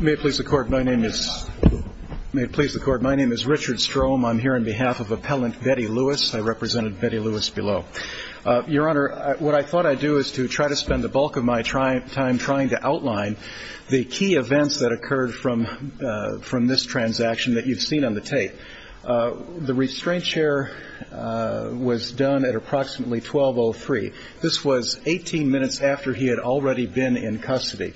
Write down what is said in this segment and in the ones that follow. May it please the Court, my name is Richard Strome. I'm here on behalf of Appellant Betty Lewis. I represented Betty Lewis below. Your Honor, what I thought I'd do is to try to spend the bulk of my time trying to outline the key events that occurred from this transaction that you've seen on the tape. The restraint chair was done at approximately 12.03. This was 18 minutes after he had already been in custody.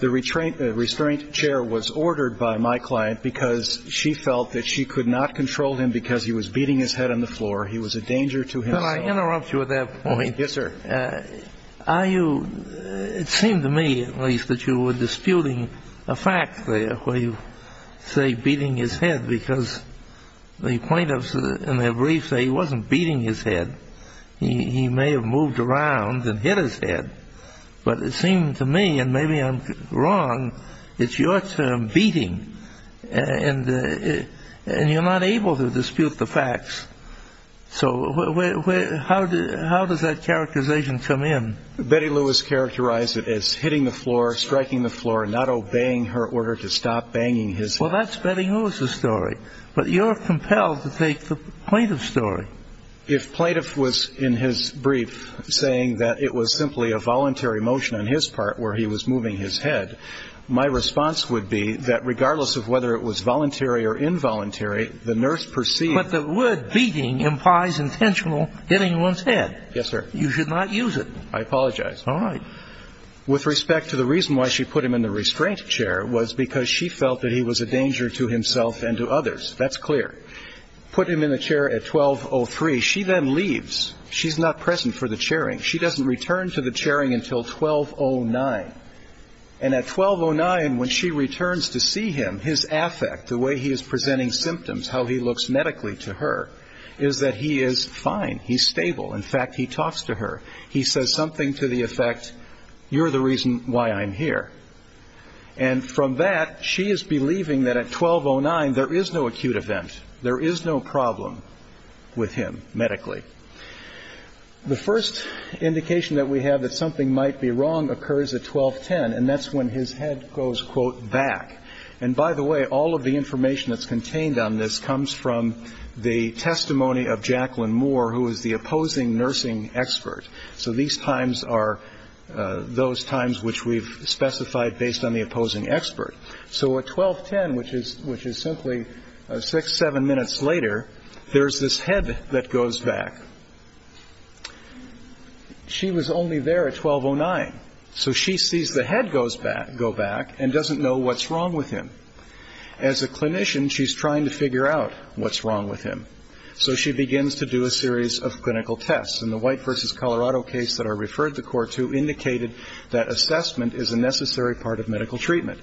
The restraint chair was ordered by my client because she felt that she could not control him because he was beating his head on the floor. He was a danger to himself. Can I interrupt you at that point? Yes, sir. Are you, it seemed to me at least that you were disputing a fact there where you say beating his head because the plaintiffs in their brief say he wasn't beating his head. He may have moved around and hit his head. But it seemed to me, and maybe I'm wrong, it's your term, beating. And you're not able to dispute the facts. So how does that characterization come in? Betty Lewis characterized it as hitting the floor, striking the floor, not obeying her order to stop banging his head. Well, that's Betty Lewis's story. But you're compelled to take the plaintiff's story. If plaintiff was in his brief saying that it was simply a voluntary motion on his part where he was moving his head, my response would be that regardless of whether it was voluntary or involuntary, the nurse perceived But the word beating implies intentional hitting one's head. Yes, sir. You should not use it. I apologize. All right. With respect to the reason why she put him in the restraint chair was because she felt that he was a danger to himself and to others. That's clear. Put him in the chair at 12.03. She then leaves. She's not present for the chairing. She doesn't return to the chairing until 12.09. And at 12.09, when she returns to see him, his affect, the way he is presenting symptoms, how he looks medically to her, is that he is fine. He's stable. In fact, he talks to her. He says something to the effect, you're the reason why I'm here. And from that, she is believing that at 12.09, there is no acute event. There is no problem with him medically. The first indication that we have that something might be wrong occurs at 12.10, and that's when his head goes, quote, back. And by the way, all of the information that's contained on this comes from the testimony of Jacqueline Moore, who is the opposing nursing expert. So these times are those times which we've specified based on the opposing expert. So at 12.10, which is simply six, seven minutes later, there is this head that goes back. She was only there at 12.09. So she sees the head go back and doesn't know what's wrong with him. As a clinician, she's trying to figure out what's wrong with him. So she begins to do a series of clinical tests. And the White v. Colorado case that I referred the court to indicated that assessment is a necessary part of medical treatment.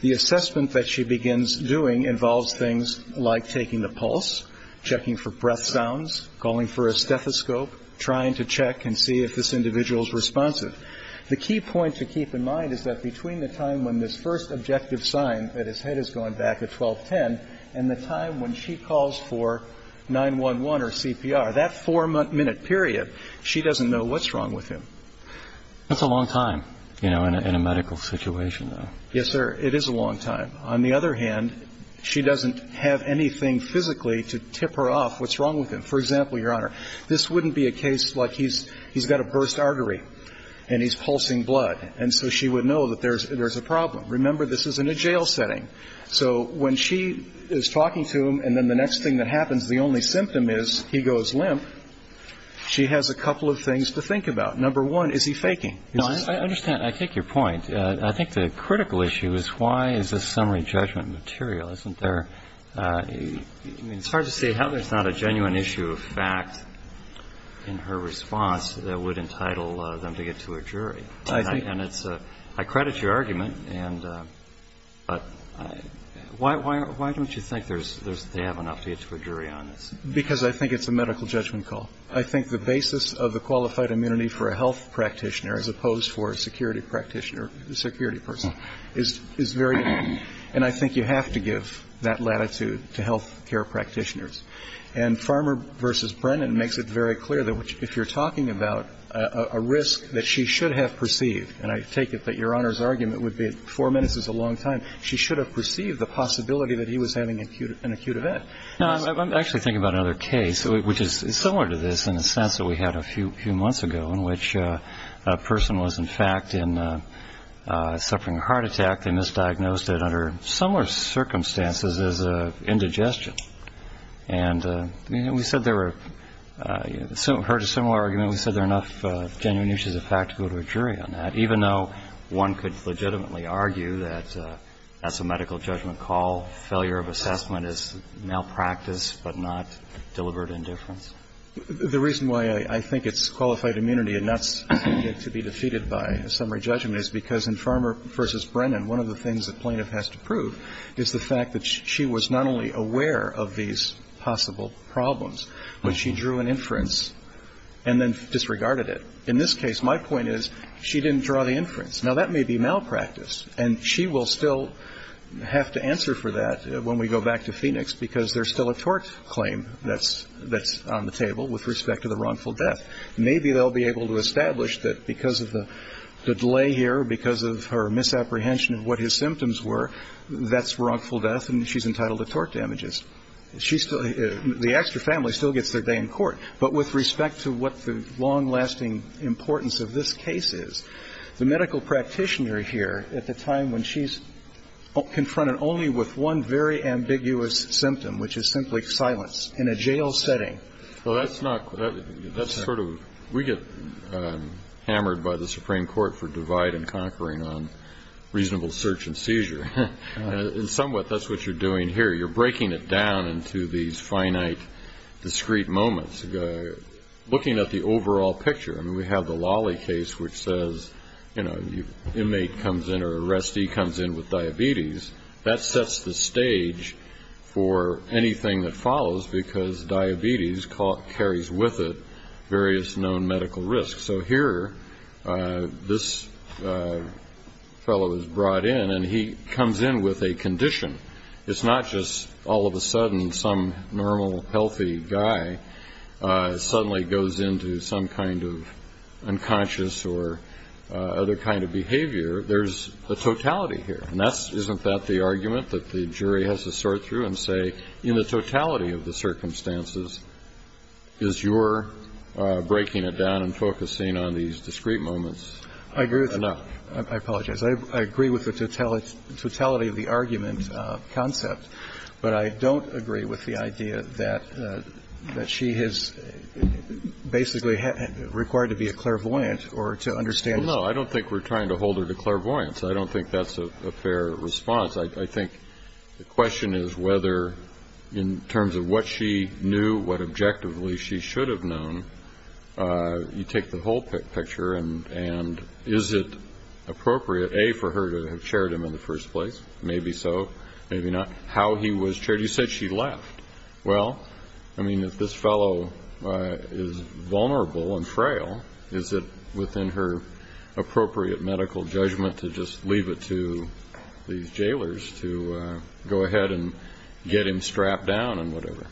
The assessment that she begins doing involves things like taking the pulse, checking for breath sounds, calling for a stethoscope, trying to check and see if this individual is responsive. The key point to keep in mind is that between the time when this first objective sign that his head is going back at 12.10 and the time when she calls for 911 or CPR, that four-minute period, she doesn't know what's wrong with him. That's a long time, you know, in a medical situation, though. Yes, sir. It is a long time. On the other hand, she doesn't have anything physically to tip her off what's wrong with him. For example, Your Honor, this wouldn't be a case like he's got a burst artery and he's pulsing blood. And so she would know that there's a problem. Remember, this is in a jail setting. So when she is talking to him and then the next thing that happens, the only symptom is he goes limp, she has a couple of things to think about. Number one, is he faking? No, I understand. I take your point. I think the critical issue is why is this summary judgment material? Isn't there – I mean, it's hard to say how there's not a genuine issue of fact in her response that would entitle them to get to a jury. I think – I credit your argument. And – but why don't you think there's – they have an update to a jury on this? Because I think it's a medical judgment call. I think the basis of the qualified immunity for a health practitioner as opposed for a security practitioner, a security person, is very important. And I think you have to give that latitude to health care practitioners. And Farmer v. Brennan makes it very clear that if you're talking about a risk that she should have perceived, and I take it that your Honor's argument would be four minutes is a long time, she should have perceived the possibility that he was having an acute event. No, I'm actually thinking about another case, which is similar to this in the sense that we had a few months ago, in which a person was in fact in – suffering a heart attack. They misdiagnosed it under similar circumstances as indigestion. And we said there were – heard a similar argument. We said there are enough genuine issues of fact to go to a jury on that, even though one could legitimately argue that that's a medical judgment call. Failure of assessment is malpractice, but not deliberate indifference. The reason why I think it's qualified immunity and not to be defeated by a summary judgment is because in Farmer v. Brennan, one of the things a plaintiff has to prove is the fact that she was not only aware of these possible problems, but she drew an inference and then disregarded it. In this case, my point is she didn't draw the inference. Now, that may be malpractice. And she will still have to answer for that when we go back to Phoenix, because there's still a tort claim that's on the table with respect to the wrongful death. Maybe they'll be able to establish that because of the delay here, because of her misapprehension of what his symptoms were, that's wrongful death and she's entitled to tort damages. She's still the extra family still gets their day in court. But with respect to what the long lasting importance of this case is, the medical practitioner here at the time when she's confronted only with one very ambiguous symptom, which is simply silence in a jail setting. Well, that's not that's sort of we get hammered by the Supreme Court for divide and conquering on reasonable search and seizure. And somewhat that's what you're doing here. You're breaking it down into these finite, discrete moments, looking at the overall picture. I mean, we have the Lawley case, which says, you know, your inmate comes in or arrestee comes in with diabetes that sets the stage for anything that follows, because diabetes carries with it various known medical risks. So here, this fellow is brought in and he comes in with a condition. It's not just all of a sudden some normal, healthy guy suddenly goes into some kind of unconscious or other kind of behavior. There's a totality here. And that's isn't that the argument that the jury has to sort through and say, in the totality of the circumstances, is your breaking it down and focusing on these discrete moments enough? I agree with you. I apologize. I agree with the totality of the argument concept, but I don't agree with the idea that she has basically required to be a clairvoyant or to understand. No, I don't think we're trying to hold her to clairvoyance. I don't think that's a fair response. I think the question is whether, in terms of what she knew, what objectively she should have known, you take the whole picture and is it appropriate, A, for her to have chaired him in the first place? Maybe so, maybe not. How he was chaired? You said she left. Well, I mean, if this fellow is vulnerable and frail, is it within her appropriate medical judgment to just leave it to these jailers to go ahead and get him strapped down and whatever?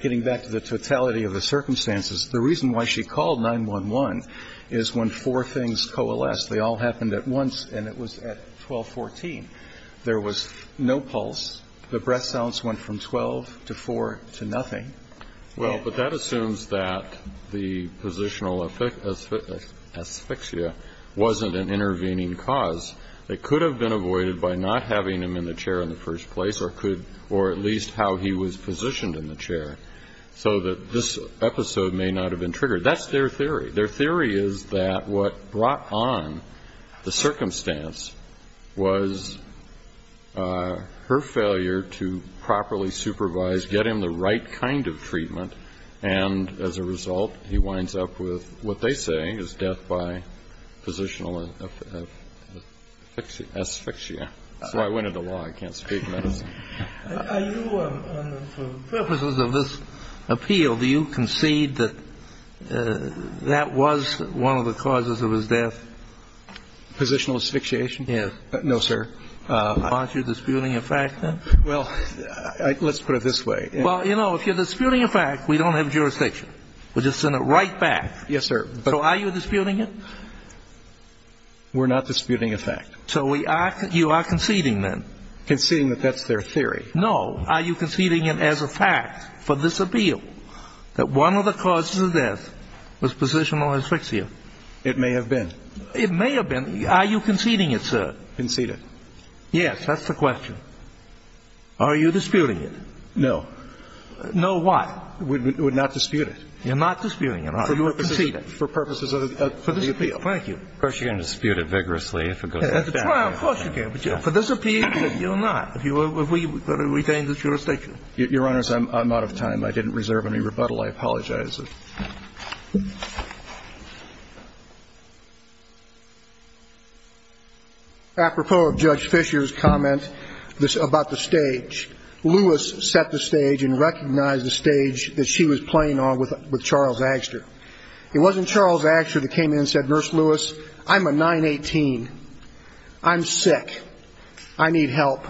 Getting back to the totality of the circumstances, the reason why she called 911 is when four things coalesced. They all happened at once, and it was at 1214. There was no pulse. The breath sounds went from 12 to 4 to nothing. Well, but that assumes that the positional asphyxia wasn't an intervening cause. It could have been avoided by not having him in the chair in the first place or could have changed how he was positioned in the chair so that this episode may not have been triggered. That's their theory. Their theory is that what brought on the circumstance was her failure to properly supervise, get him the right kind of treatment, and as a result, he winds up with what they say is death by positional asphyxia. That's why I went into law. I can't speak medicine. Are you on the purposes of this appeal, do you concede that that was one of the causes of his death? Positional asphyxiation? Yes. No, sir. Aren't you disputing a fact then? Well, let's put it this way. Well, you know, if you're disputing a fact, we don't have jurisdiction. We'll just send it right back. Yes, sir. So are you disputing it? We're not disputing a fact. So you are conceding then? Conceding that that's their theory. No. Are you conceding it as a fact for this appeal that one of the causes of death was positional asphyxia? It may have been. It may have been. Are you conceding it, sir? Conceded. Yes, that's the question. Are you disputing it? No. No, why? We would not dispute it. You're not disputing it, are you? So you are conceding it. For purposes of the appeal. Thank you. Of course, you can dispute it vigorously if it goes that far. Of course you can. For this appeal, you're not. If we were to retain the jurisdiction. Your Honors, I'm out of time. I didn't reserve any rebuttal. I apologize. Apropos of Judge Fisher's comment about the stage, Lewis set the stage and recognized the stage that she was playing on with Charles Agster. It wasn't Charles Agster that came in and said, Nurse Lewis, I'm a 9-18. I'm sick. I need help.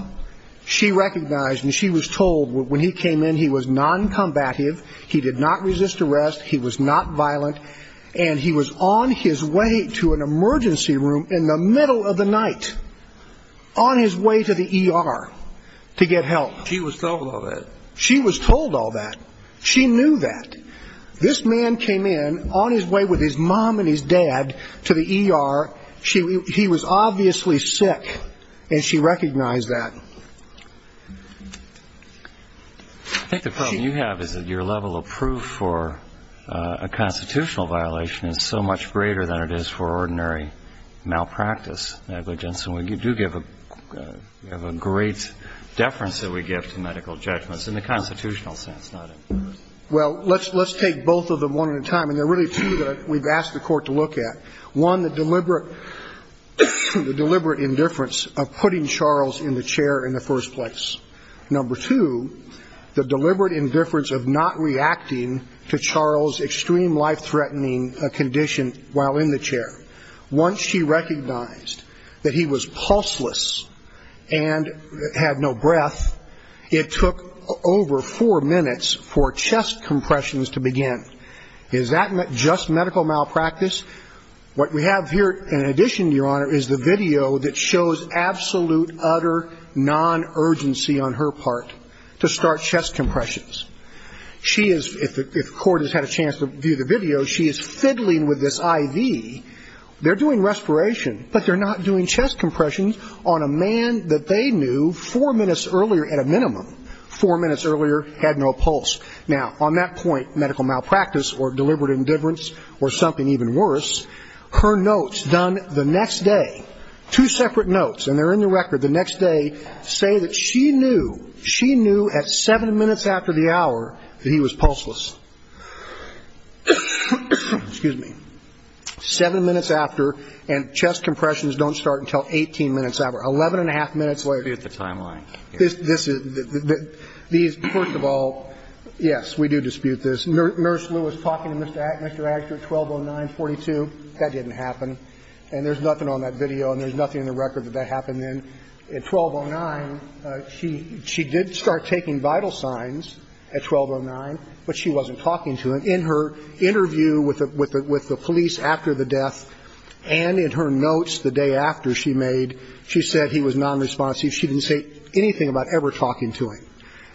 She recognized, and she was told when he came in, he was non-combative. He did not resist arrest. He was not violent. And he was on his way to an emergency room in the middle of the night, on his way to the ER to get help. She was told all that. She was told all that. She knew that. This man came in on his way with his mom and his dad to the ER. He was obviously sick. And she recognized that. I think the problem you have is that your level of proof for a constitutional violation is so much greater than it is for ordinary malpractice negligence. And we do have a great deference that we give to medical judgments, in the constitutional sense, not in personal. Well, let's take both of them one at a time. And there are really two that we've asked the Court to look at. One, the deliberate indifference of putting Charles in the chair in the first place. Number two, the deliberate indifference of not reacting to Charles' extreme life-threatening condition while in the chair. Once she recognized that he was pulseless and had no breath, it took over four minutes for chest compressions to begin. Is that just medical malpractice? What we have here in addition, Your Honor, is the video that shows absolute, utter non-urgency on her part to start chest compressions. If the Court has had a chance to view the video, she is fiddling with this IV. They're doing respiration, but they're not doing chest compressions on a man that they knew four minutes earlier at a minimum, four minutes earlier, had no pulse. Now, on that point, medical malpractice or deliberate indifference or something even worse, her notes done the next day, two separate notes, and they're in the record, the next day, say that she knew, she knew at seven minutes after the hour that he was pulseless. Excuse me. Seven minutes after and chest compressions don't start until 18 minutes after, 11 and a half minutes later. So we do dispute the timeline here. This is, these, first of all, yes, we do dispute this. Nurse Lewis talking to Mr. Agger at 1209.42, that didn't happen. And there's nothing on that video and there's nothing in the record that that happened then. At 1209, she did start taking vital signs at 1209, but she wasn't talking to him. In her interview with the police after the death and in her notes the day after she made, she said he was nonresponsive. She didn't say anything about ever talking to him.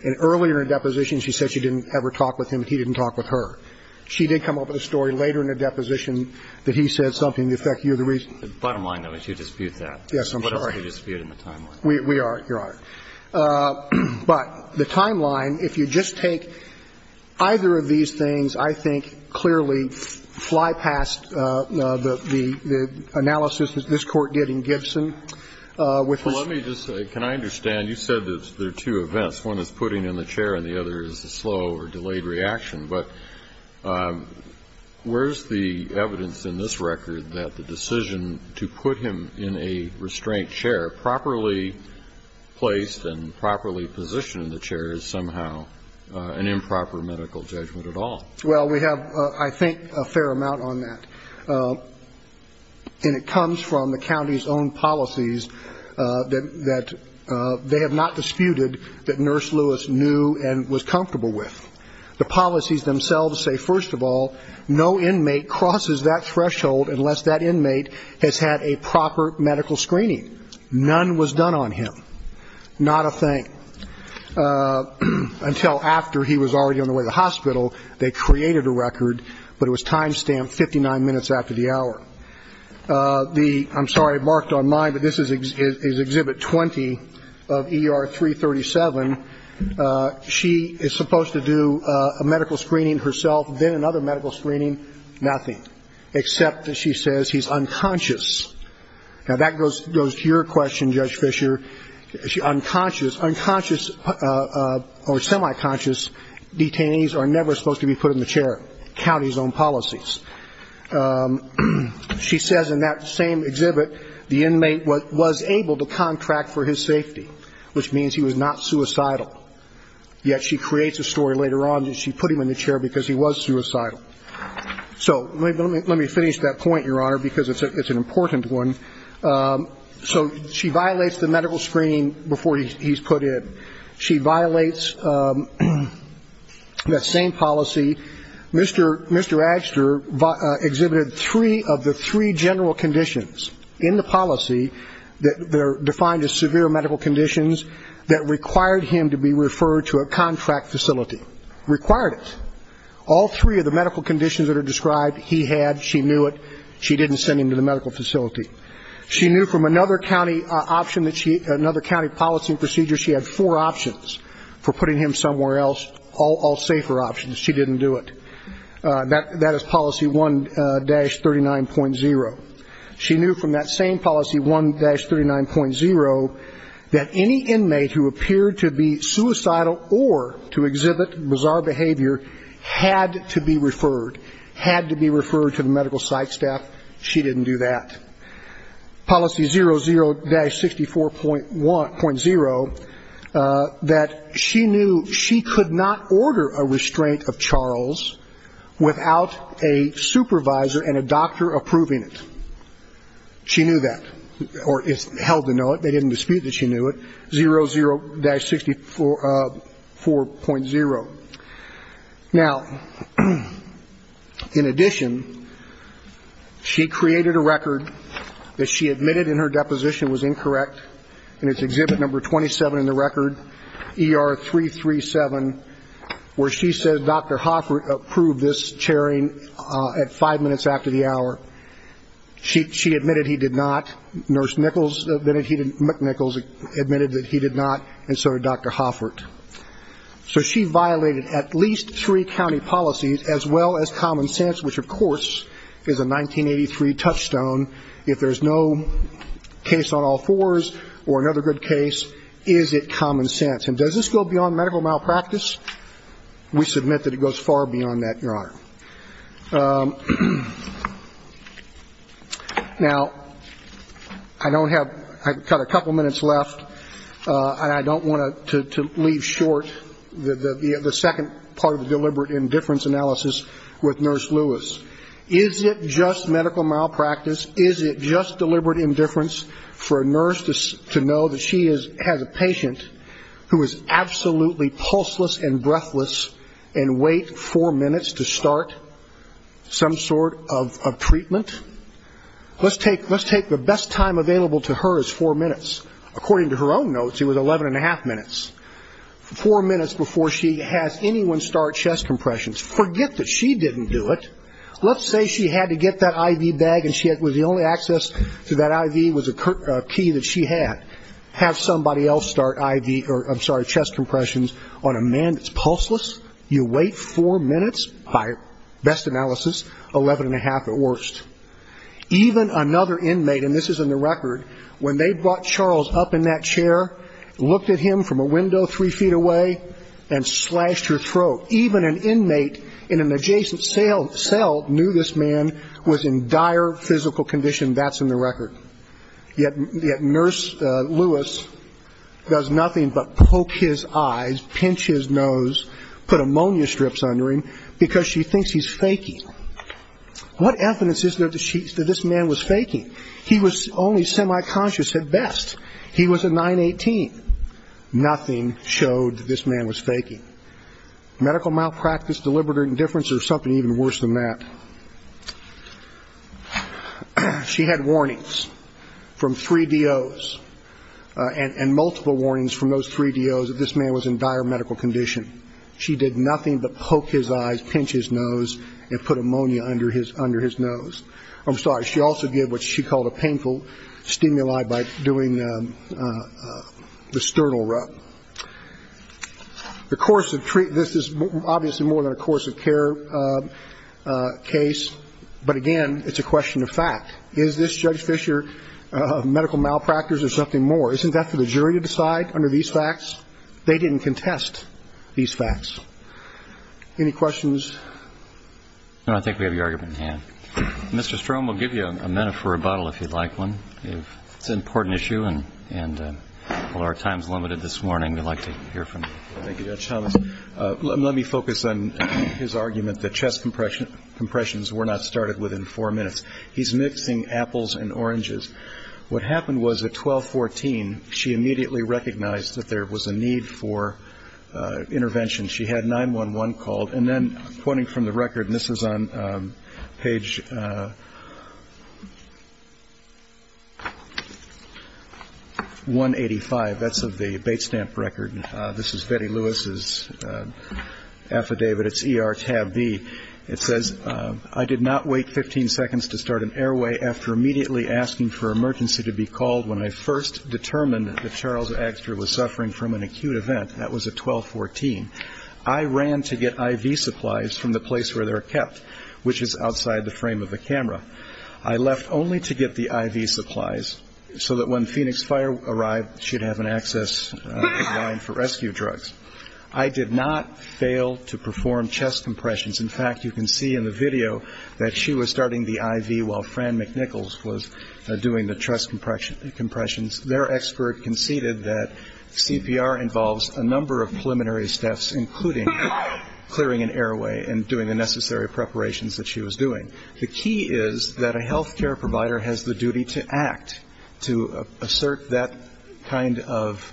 And earlier in the deposition, she said she didn't ever talk with him and he didn't talk with her. She did come up with a story later in the deposition that he said something to the effect you're the reason. The bottom line, though, is you dispute that. Yes, I'm sorry. What else do you dispute in the timeline? We are, Your Honor. But the timeline, if you just take either of these things, I think clearly fly past the analysis that this Court did in Gibson with respect to the restraint chair. Well, let me just say, can I understand, you said that there are two events. One is putting him in the chair and the other is a slow or delayed reaction. But where's the evidence in this record that the decision to put him in a restraint chair, properly placed and properly positioned in the chair, is somehow an improper medical judgment at all? Well, we have, I think, a fair amount on that. And it comes from the county's own policies that they have not disputed that Nurse Lewis knew and was comfortable with. The policies themselves say, first of all, no inmate crosses that threshold unless that inmate has had a proper medical screening. None was done on him. Not a thing. Until after he was already on the way to the hospital, they created a record, but it was time stamped 59 minutes after the hour. I'm sorry, I marked on mine, but this is Exhibit 20 of ER 337. She is supposed to do a medical screening herself, then another medical screening. Nothing, except that she says he's unconscious. Now, that goes to your question, Judge Fisher. Unconscious or semi-conscious detainees are never supposed to be put in the chair. County's own policies. She says in that same exhibit, the inmate was able to contract for his safety, which means he was not suicidal. Yet she creates a story later on that she put him in the chair because he was suicidal. So let me finish that point, Your Honor, because it's an important one. So she violates the medical screening before he's put in. She violates that same policy. Mr. Agster exhibited three of the three general conditions in the policy that are defined as severe medical conditions that required him to be referred to a contract facility. Required it. All three of the medical conditions that are described, he had, she knew it. She didn't send him to the medical facility. She knew from another county option that she, another county policy procedure, she had four options for putting him somewhere else, all safer options. She didn't do it. That is policy 1-39.0. She knew from that same policy 1-39.0 that any inmate who appeared to be suicidal or to exhibit bizarre behavior had to be referred, had to be referred to the medical site staff. She didn't do that. Policy 00-64.1, .0, that she knew she could not order a restraint of Charles without a supervisor and a doctor approving it. She knew that, or is held to know it. They didn't dispute that she knew it. 00-64.0. Now, in addition, she created a record that she admitted in her deposition was incorrect. And it's exhibit number 27 in the record, ER-337, where she said Dr. Hoffert approved this chairing at five minutes after the hour. She admitted he did not. Nurse Nichols admitted he didn't, Nichols admitted that he did not, and so did Dr. Hoffert. So she violated at least three county policies as well as common sense, which of course is a 1983 touchstone. If there's no case on all fours or another good case, is it common sense? And does this go beyond medical malpractice? We submit that it goes far beyond that, Your Honor. Now, I don't have, I've got a couple minutes left, and I don't want to leave short the second part of the deliberate indifference analysis with Nurse Lewis. Is it just medical malpractice? Is it just deliberate indifference for a nurse to know that she has a patient who is absolutely pulseless and breathless and wait four minutes to start some sort of treatment? Let's take the best time available to her as four minutes. According to her own notes, it was 11 and a half minutes. Four minutes before she has anyone start chest compressions. Forget that she didn't do it. Let's say she had to get that IV bag and the only access to that IV was a key that she had. Have somebody else start chest compressions on a man that's pulseless? You wait four minutes? By best analysis, 11 and a half at worst. Even another inmate, and this is in the record, when they brought Charles up in that chair, looked at him from a window three feet away and slashed her throat. Even an inmate in an adjacent cell knew this man was in dire physical condition. That's in the record. Yet Nurse Lewis does nothing but poke his eyes, pinch his nose, put ammonia strips under him because she thinks he's faking. What evidence is there that this man was faking? He was only semi-conscious at best. He was a 9-18. Nothing showed that this man was faking. Medical malpractice, deliberate indifference, or something even worse than that? She had warnings from three DOs and multiple warnings from those three DOs that this man was in dire medical condition. She did nothing but poke his eyes, pinch his nose, and put ammonia under his nose. I'm sorry, she also did what she called a painful stimuli by doing the sternal rub. This is obviously more than a course of care case, but again, it's a question of fact. Is this Judge Fischer medical malpractice or something more? Isn't that for the jury to decide under these facts? They didn't contest these facts. Any questions? No, I think we have your argument in hand. Mr. Strome, we'll give you a minute for rebuttal if you'd like one. Good morning, we'd like to hear from you. Thank you, Judge Thomas. Let me focus on his argument that chest compressions were not started within four minutes. He's mixing apples and oranges. What happened was at 12-14, she immediately recognized that there was a need for intervention. She had 911 called, and then, pointing from the record, and this is on page 185, that's of the bait stamp record, this is Betty Lewis's affidavit, it's ER tab B. It says, I did not wait 15 seconds to start an airway after immediately asking for emergency to be called when I first determined that Charles Agster was suffering from an acute event. That was at 12-14. I ran to get IV supplies from the place where they're kept, which is outside the frame of the camera. I left only to get the IV supplies so that when Phoenix Fire arrived, she'd have an access line for rescue drugs. I did not fail to perform chest compressions. In fact, you can see in the video that she was starting the IV while Fran McNichols was doing the chest compressions. Their expert conceded that CPR involves a number of preliminary steps, including clearing an airway and doing the necessary preparations that she was doing. The key is that a health care provider has the duty to act, to assert that kind of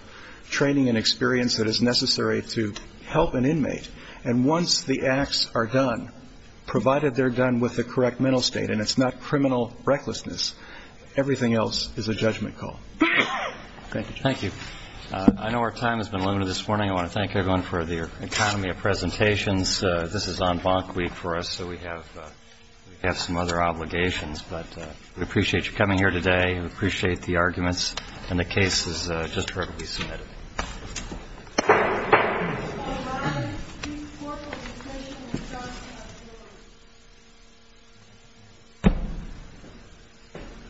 training and experience that is necessary to help an inmate. And once the acts are done, provided they're done with the correct mental state, and it's not criminal recklessness, everything else is a judgment call. Thank you. Thank you. I know our time has been limited this morning. I want to thank everyone for their economy of presentations. This is en banc week for us, so we have some other obligations. But we appreciate you coming here today. We appreciate the arguments. And the case is just heard to be submitted.